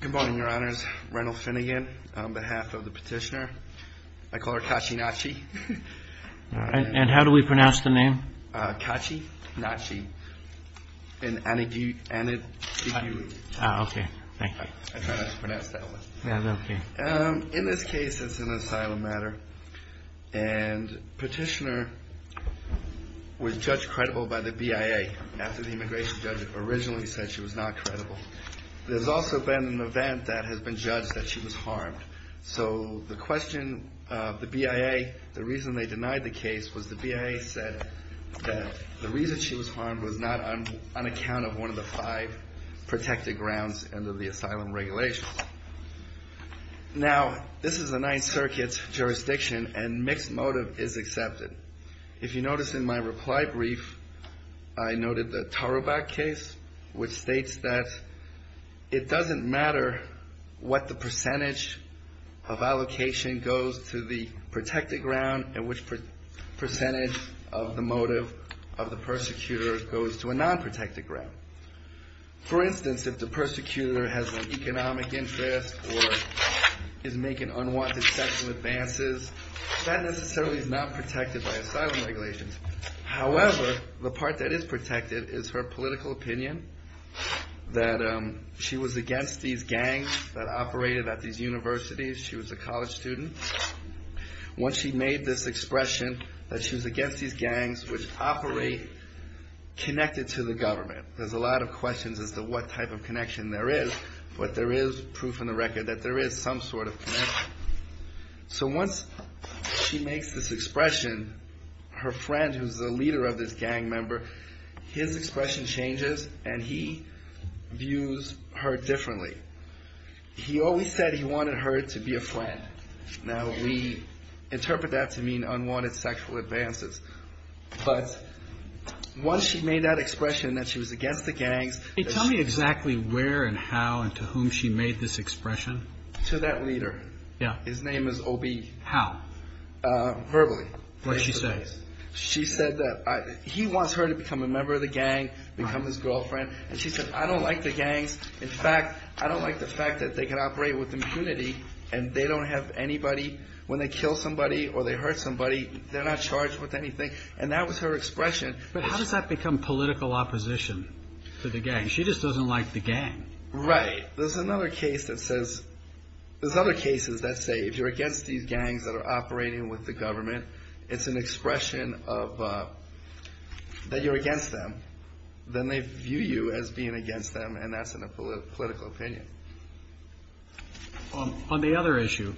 Good morning, Your Honors. Reynold Finnegan on behalf of the petitioner. I call her Kachi-NACHI. And how do we pronounce the name? Kachi-NACHI-ANYDIEGWU. Ah, okay. Thank you. I try not to pronounce that one. In this case, it's an asylum matter, and petitioner was judged credible by the BIA after the immigration judge originally said she was not credible. There's also been an event that has been judged that she was harmed. So the question of the BIA, the reason they denied the case was the BIA said that the reason she was harmed was not on account of one of the five protected grounds under the asylum regulations. Now, this is a Ninth Circuit jurisdiction, and mixed motive is accepted. If you notice in my reply brief, I noted the Tarabak case, which states that it doesn't matter what the percentage of allocation goes to the protected ground and which percentage of the motive of the persecutor goes to a non-protected ground. For instance, if the persecutor has an economic interest or is making unwanted sexual advances, that necessarily is not protected by asylum regulations. However, the part that is protected is her political opinion that she was against these gangs that operated at these universities. She was a college student. Once she made this expression that she was against these gangs which operate connected to the government. There's a lot of questions as to what type of connection there is, but there is proof in the record that there is some sort of connection. So once she makes this expression, her friend who's the leader of this gang member, his expression changes and he views her differently. He always said he wanted her to be a friend. Now, we interpret that to mean unwanted sexual advances. But once she made that expression that she was against the gangs. Can you tell me exactly where and how and to whom she made this expression? To that leader. Yeah. His name is OB. How? Verbally. What did she say? She said that he wants her to become a member of the gang, become his girlfriend. And she said, I don't like the gangs. In fact, I don't like the fact that they can operate with impunity and they don't have anybody. When they kill somebody or they hurt somebody, they're not charged with anything. And that was her expression. But how does that become political opposition to the gang? She just doesn't like the gang. Right. There's another case that says – there's other cases that say if you're against these gangs that are operating with the government, it's an expression that you're against them. Then they view you as being against them, and that's a political opinion. On the other issue,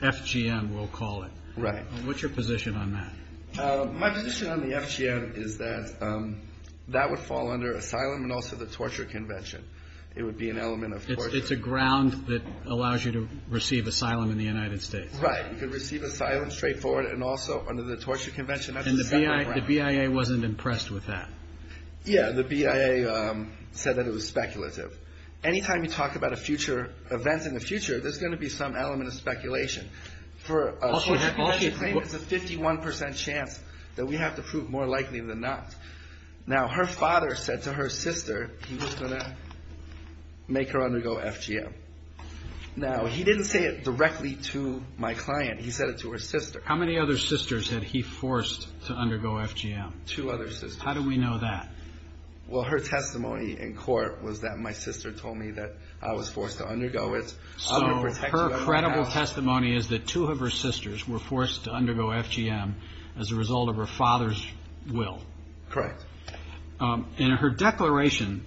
FGM we'll call it. Right. What's your position on that? My position on the FGM is that that would fall under asylum and also the torture convention. It would be an element of torture. It's a ground that allows you to receive asylum in the United States. Right. You could receive asylum straightforward and also under the torture convention. And the BIA wasn't impressed with that. Yeah. The BIA said that it was speculative. Anytime you talk about a future – events in the future, there's going to be some element of speculation. All she claimed was a 51% chance that we have to prove more likely than not. Now, her father said to her sister he was going to make her undergo FGM. Now, he didn't say it directly to my client. He said it to her sister. How many other sisters had he forced to undergo FGM? Two other sisters. How do we know that? Well, her testimony in court was that my sister told me that I was forced to undergo it. So her credible testimony is that two of her sisters were forced to undergo FGM as a result of her father's will. Correct. In her declaration,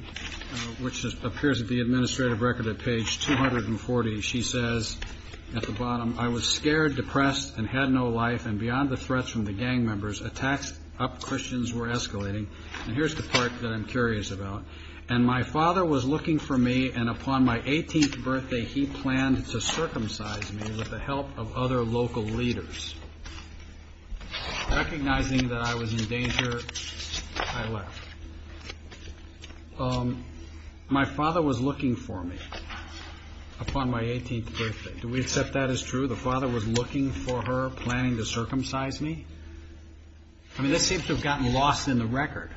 which appears at the administrative record at page 240, she says at the bottom, I was scared, depressed, and had no life, and beyond the threats from the gang members, attacks up Christians were escalating. And here's the part that I'm curious about. And my father was looking for me, and upon my 18th birthday, he planned to circumcise me with the help of other local leaders. Recognizing that I was in danger, I left. My father was looking for me upon my 18th birthday. Do we accept that as true? The father was looking for her, planning to circumcise me? I mean, this seems to have gotten lost in the record.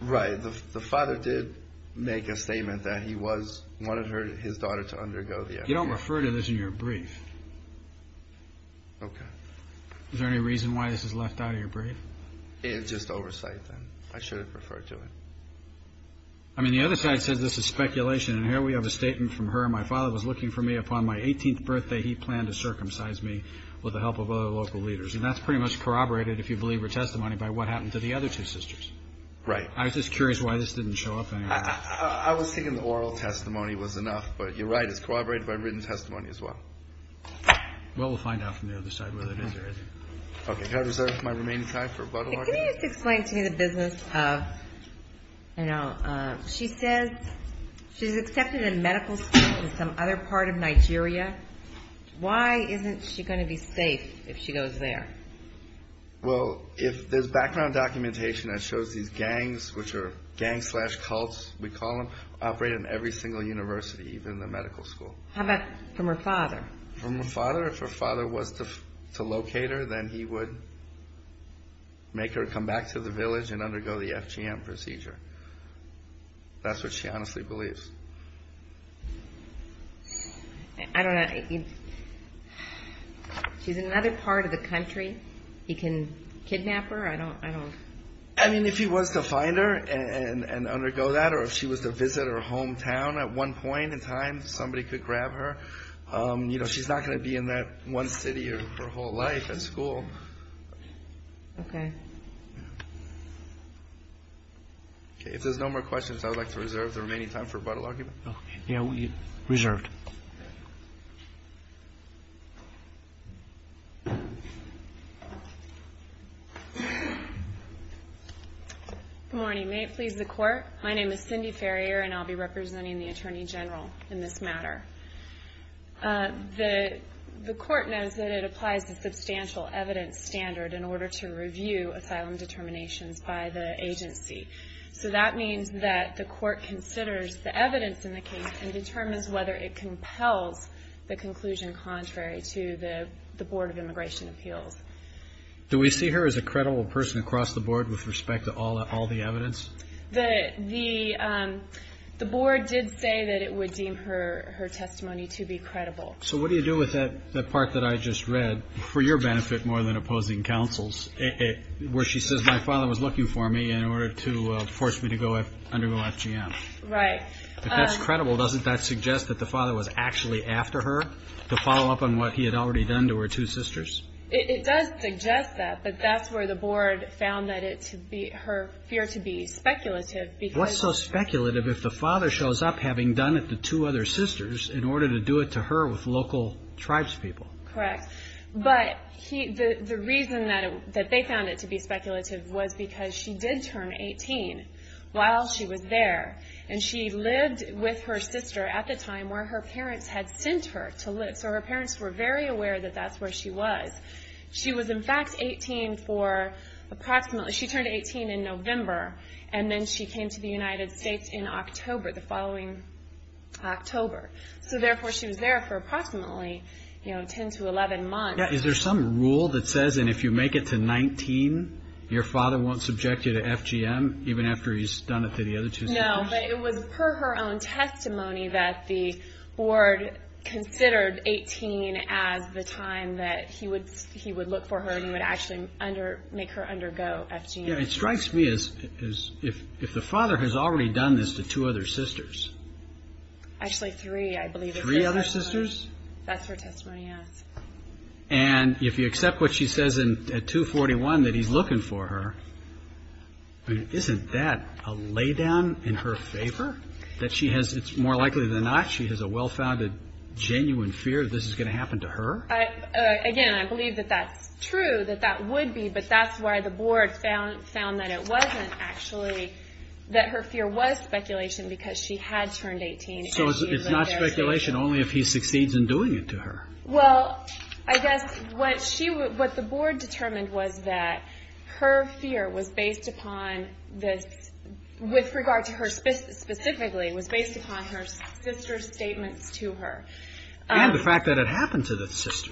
Right. The father did make a statement that he wanted his daughter to undergo the FGM. You don't refer to this in your brief. Okay. Is there any reason why this is left out of your brief? It's just oversight, then. I should have referred to it. I mean, the other side says this is speculation. And here we have a statement from her. My father was looking for me. Upon my 18th birthday, he planned to circumcise me with the help of other local leaders. And that's pretty much corroborated, if you believe her testimony, by what happened to the other two sisters. Right. I was just curious why this didn't show up anywhere. I was thinking the oral testimony was enough. But you're right. It's corroborated by written testimony as well. Well, we'll find out from the other side whether it is or isn't. Okay. Can I reserve my remaining time for blood work? Can you just explain to me the business of, you know, she says she's accepted in medical school in some other part of Nigeria. Why isn't she going to be safe if she goes there? Well, if there's background documentation that shows these gangs, which are gangs slash cults, we call them, operate in every single university, even the medical school. How about from her father? From her father? If her father was to locate her, then he would make her come back to the village and undergo the FGM procedure. That's what she honestly believes. I don't know. She's in another part of the country. He can kidnap her. I don't. I mean, if he was to find her and undergo that, or if she was to visit her hometown at one point in time, somebody could grab her. You know, she's not going to be in that one city her whole life at school. Okay. Okay. If there's no more questions, I would like to reserve the remaining time for a bottle argument. Okay. Reserved. Good morning. May it please the Court. My name is Cindy Ferrier, and I'll be representing the Attorney General in this matter. The Court knows that it applies a substantial evidence standard in order to review asylum determinations by the agency. So that means that the Court considers the evidence in the case and determines whether it compels the conclusion contrary to the Board of Immigration Appeals. Do we see her as a credible person across the Board with respect to all the evidence? The Board did say that it would deem her testimony to be credible. So what do you do with that part that I just read, for your benefit more than opposing counsels, where she says, my father was looking for me in order to force me to undergo FGM? Right. But that's credible. Doesn't that suggest that the father was actually after her to follow up on what he had already done to her two sisters? It does suggest that, but that's where the Board found her fear to be speculative. What's so speculative if the father shows up having done it to two other sisters in order to do it to her with local tribespeople? Correct. But the reason that they found it to be speculative was because she did turn 18 while she was there, and she lived with her sister at the time where her parents had sent her to live. So her parents were very aware that that's where she was. She was, in fact, 18 for approximately – she turned 18 in November, and then she came to the United States in October, the following October. So therefore, she was there for approximately 10 to 11 months. Is there some rule that says that if you make it to 19, your father won't subject you to FGM, No, but it was per her own testimony that the Board considered 18 as the time that he would look for her and would actually make her undergo FGM. It strikes me as if the father has already done this to two other sisters. Actually three, I believe. Three other sisters? That's her testimony, yes. And if you accept what she says at 241 that he's looking for her, isn't that a laydown in her favor? It's more likely than not she has a well-founded, genuine fear that this is going to happen to her? Again, I believe that that's true, that that would be, but that's why the Board found that it wasn't actually – that her fear was speculation because she had turned 18 and she lived there. So it's not speculation only if he succeeds in doing it to her? Well, I guess what the Board determined was that her fear was based upon – with regard to her specifically, was based upon her sister's statements to her. And the fact that it happened to the sister.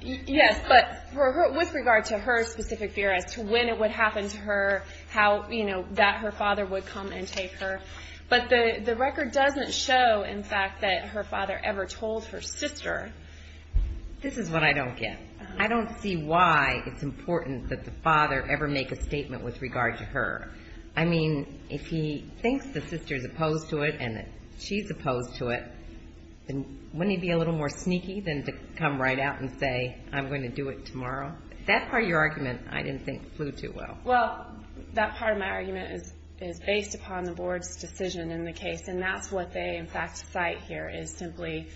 Yes, but with regard to her specific fear as to when it would happen to her, how, you know, that her father would come and take her. But the record doesn't show, in fact, that her father ever told her sister. This is what I don't get. I don't see why it's important that the father ever make a statement with regard to her. I mean, if he thinks the sister's opposed to it and that she's opposed to it, wouldn't he be a little more sneaky than to come right out and say, I'm going to do it tomorrow? That part of your argument I didn't think flew too well. Well, that part of my argument is based upon the Board's decision in the case, and that's what they, in fact, cite here, is simply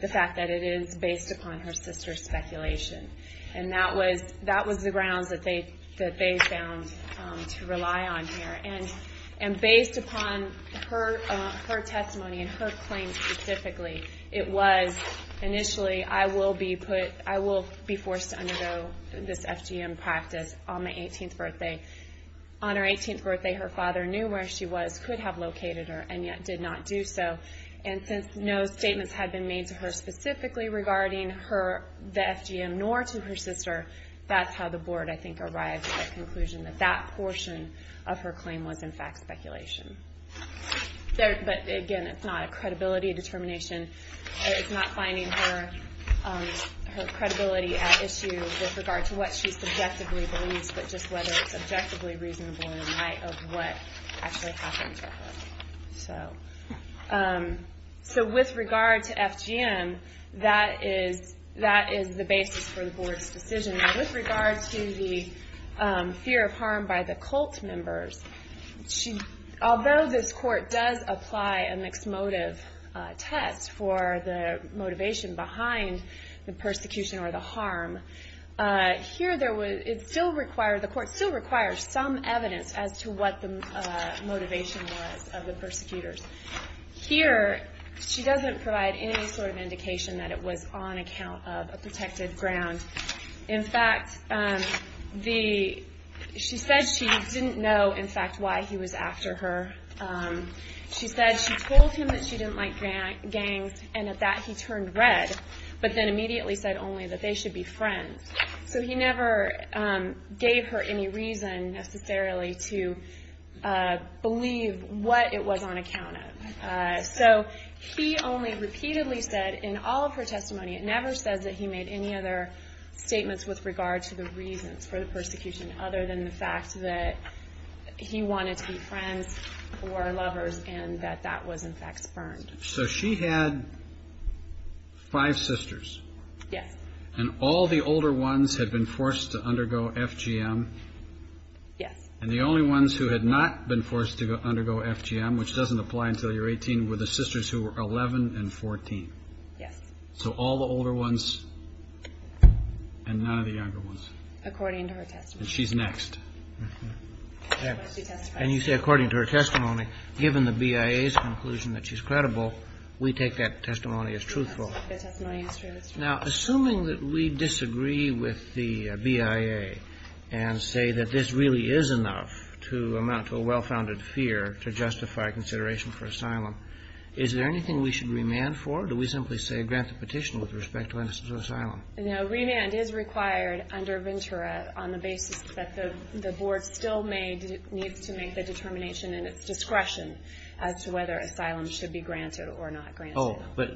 the fact that it is based upon her sister's speculation. And that was the grounds that they found to rely on here. And based upon her testimony and her claim specifically, it was initially, I will be put, I will be forced to undergo this FGM practice on my 18th birthday. On her 18th birthday, her father knew where she was, could have located her, and yet did not do so. And since no statements had been made to her specifically regarding her, the FGM, nor to her sister, that's how the Board, I think, arrived at the conclusion that that portion of her claim was, in fact, speculation. But, again, it's not a credibility determination. It's not finding her credibility at issue with regard to what she subjectively believes, but just whether it's subjectively reasonable in light of what actually happened to her. So, with regard to FGM, that is the basis for the Board's decision. With regard to the fear of harm by the cult members, although this Court does apply a mixed motive test for the motivation behind the persecution or the harm, here, the Court still requires some evidence as to what the motivation was of the persecutors. Here, she doesn't provide any sort of indication that it was on account of a protected ground. In fact, she said she didn't know, in fact, why he was after her. She said she told him that she didn't like gangs, and that he turned red, but then immediately said only that they should be friends. So he never gave her any reason, necessarily, to believe what it was on account of. So he only repeatedly said, in all of her testimony, it never says that he made any other statements with regard to the reasons for the persecution, other than the fact that he wanted to be friends or lovers, and that that was, in fact, spurned. So she had five sisters. Yes. And all the older ones had been forced to undergo FGM. Yes. And the only ones who had not been forced to undergo FGM, which doesn't apply until you're 18, were the sisters who were 11 and 14. Yes. So all the older ones and none of the younger ones. According to her testimony. And she's next. And you say according to her testimony. Given the BIA's conclusion that she's credible, we take that testimony as truthful. The testimony is truly truthful. Now, assuming that we disagree with the BIA and say that this really is enough to amount to a well-founded fear to justify consideration for asylum, is there anything we should remand for? Do we simply say grant the petition with respect to innocence or asylum? No, remand is required under Ventura on the basis that the board still needs to make the determination in its discretion as to whether asylum should be granted or not granted. Oh, but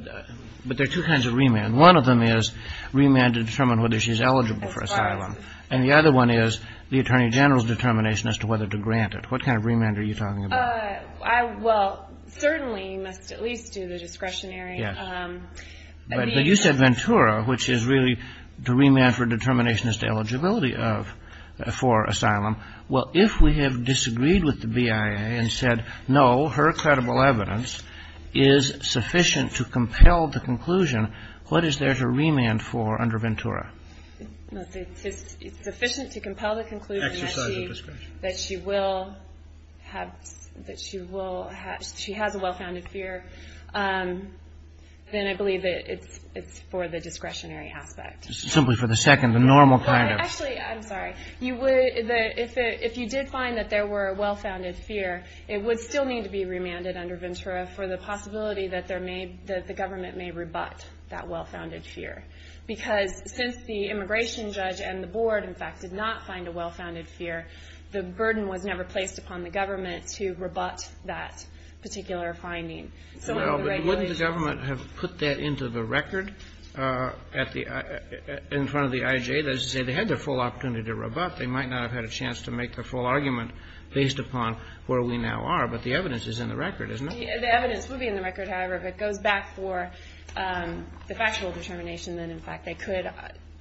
there are two kinds of remand. One of them is remand to determine whether she's eligible for asylum. As far as? And the other one is the Attorney General's determination as to whether to grant it. What kind of remand are you talking about? Well, certainly you must at least do the discretionary. Yes. But you said Ventura, which is really to remand for determination as to eligibility for asylum. Well, if we have disagreed with the BIA and said no, her credible evidence is sufficient to compel the conclusion, what is there to remand for under Ventura? It's sufficient to compel the conclusion that she has a well-founded fear. Then I believe it's for the discretionary aspect. Simply for the second, the normal kind of. Actually, I'm sorry. If you did find that there were a well-founded fear, it would still need to be remanded under Ventura for the possibility that there may be, that the government may rebut that well-founded fear. Because since the immigration judge and the board, in fact, did not find a well-founded fear, the burden was never placed upon the government to rebut that particular finding. So the regulation. Well, but wouldn't the government have put that into the record at the, in front of the IJ? They had the full opportunity to rebut. They might not have had a chance to make the full argument based upon where we now are. But the evidence is in the record, isn't it? The evidence would be in the record. However, if it goes back for the factual determination, then, in fact, they could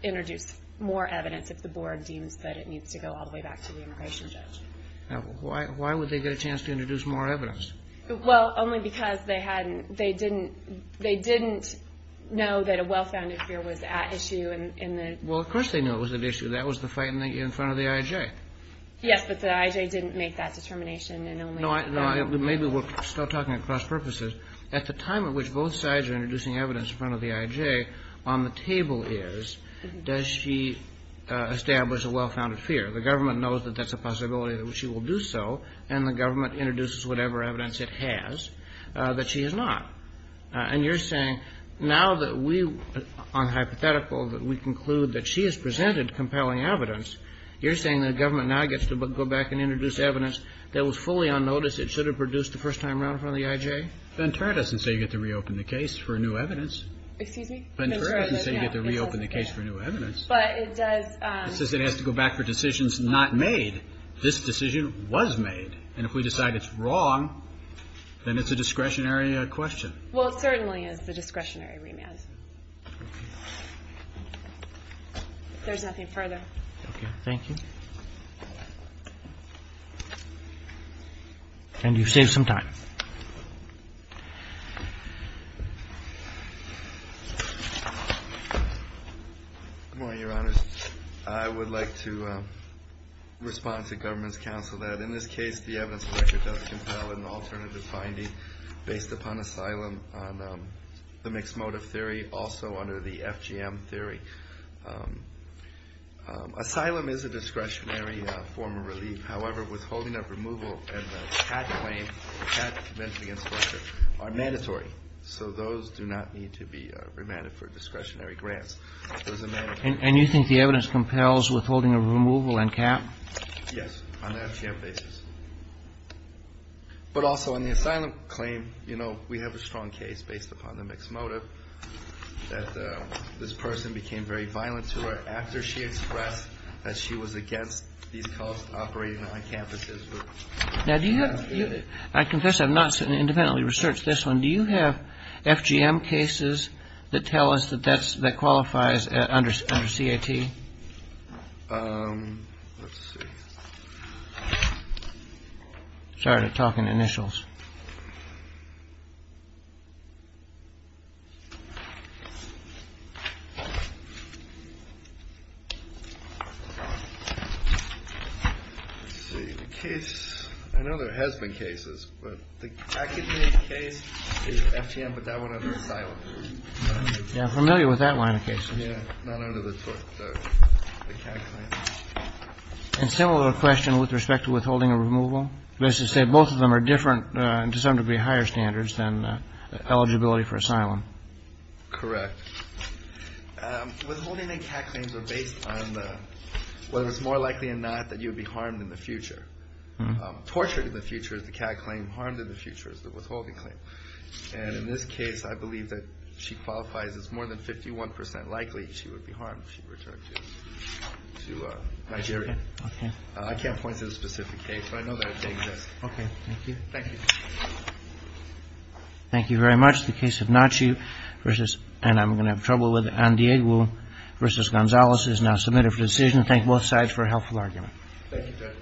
introduce more evidence if the board deems that it needs to go all the way back to the immigration judge. Why would they get a chance to introduce more evidence? Well, only because they didn't know that a well-founded fear was at issue. Well, of course they knew it was at issue. That was the fight in front of the IJ. Yes, but the IJ didn't make that determination. No, maybe we're still talking across purposes. At the time at which both sides are introducing evidence in front of the IJ, on the table is, does she establish a well-founded fear? The government knows that that's a possibility that she will do so, and the government introduces whatever evidence it has that she has not. And you're saying now that we, on hypothetical, that we conclude that she has presented compelling evidence, you're saying the government now gets to go back and introduce evidence that was fully on notice, it should have produced the first time around in front of the IJ? Ventura doesn't say you get to reopen the case for new evidence. Excuse me? Ventura doesn't say you get to reopen the case for new evidence. But it does. It says it has to go back for decisions not made. This decision was made. And if we decide it's wrong, then it's a discretionary question. Well, it certainly is a discretionary remand. Okay. If there's nothing further. Okay. Thank you. And you've saved some time. Good morning, Your Honors. I would like to respond to government's counsel that, in this case, the evidence record does compel an alternative finding based upon asylum on the mixed motive theory, also under the FGM theory. Asylum is a discretionary form of relief. However, withholding of removal and the patent claim, the patent convention against pressure, are mandatory. So those do not need to be remanded for discretionary grants. And you think the evidence compels withholding of removal and cap? Yes, on an FGM basis. But also, on the asylum claim, you know, we have a strong case based upon the mixed motive, that this person became very violent to her after she expressed that she was against these cults operating on campuses. Now, do you have, I confess I've not independently researched this one, but do you have FGM cases that tell us that that qualifies under CAT? Let's see. Sorry to talk in initials. Let's see. The case, I know there has been cases, but the academic case is FGM, but that one under asylum. Yeah, I'm familiar with that line of cases. Yeah, not under the CAT claim. And similar question with respect to withholding of removal. Both of them are different and to some degree higher standards than eligibility for asylum. Correct. Withholding and CAT claims are based on whether it's more likely or not that you would be harmed in the future. Tortured in the future is the CAT claim, harmed in the future is the withholding claim. And in this case, I believe that she qualifies as more than 51 percent likely she would be harmed if she returned to Nigeria. I can't point to the specific case, but I know that it exists. Okay. Thank you. Thank you. Thank you very much. The case of Nachiu versus, and I'm going to have trouble with, Andiegu versus Gonzalez is now submitted for decision. Thank both sides for a helpful argument. Thank you, Judge.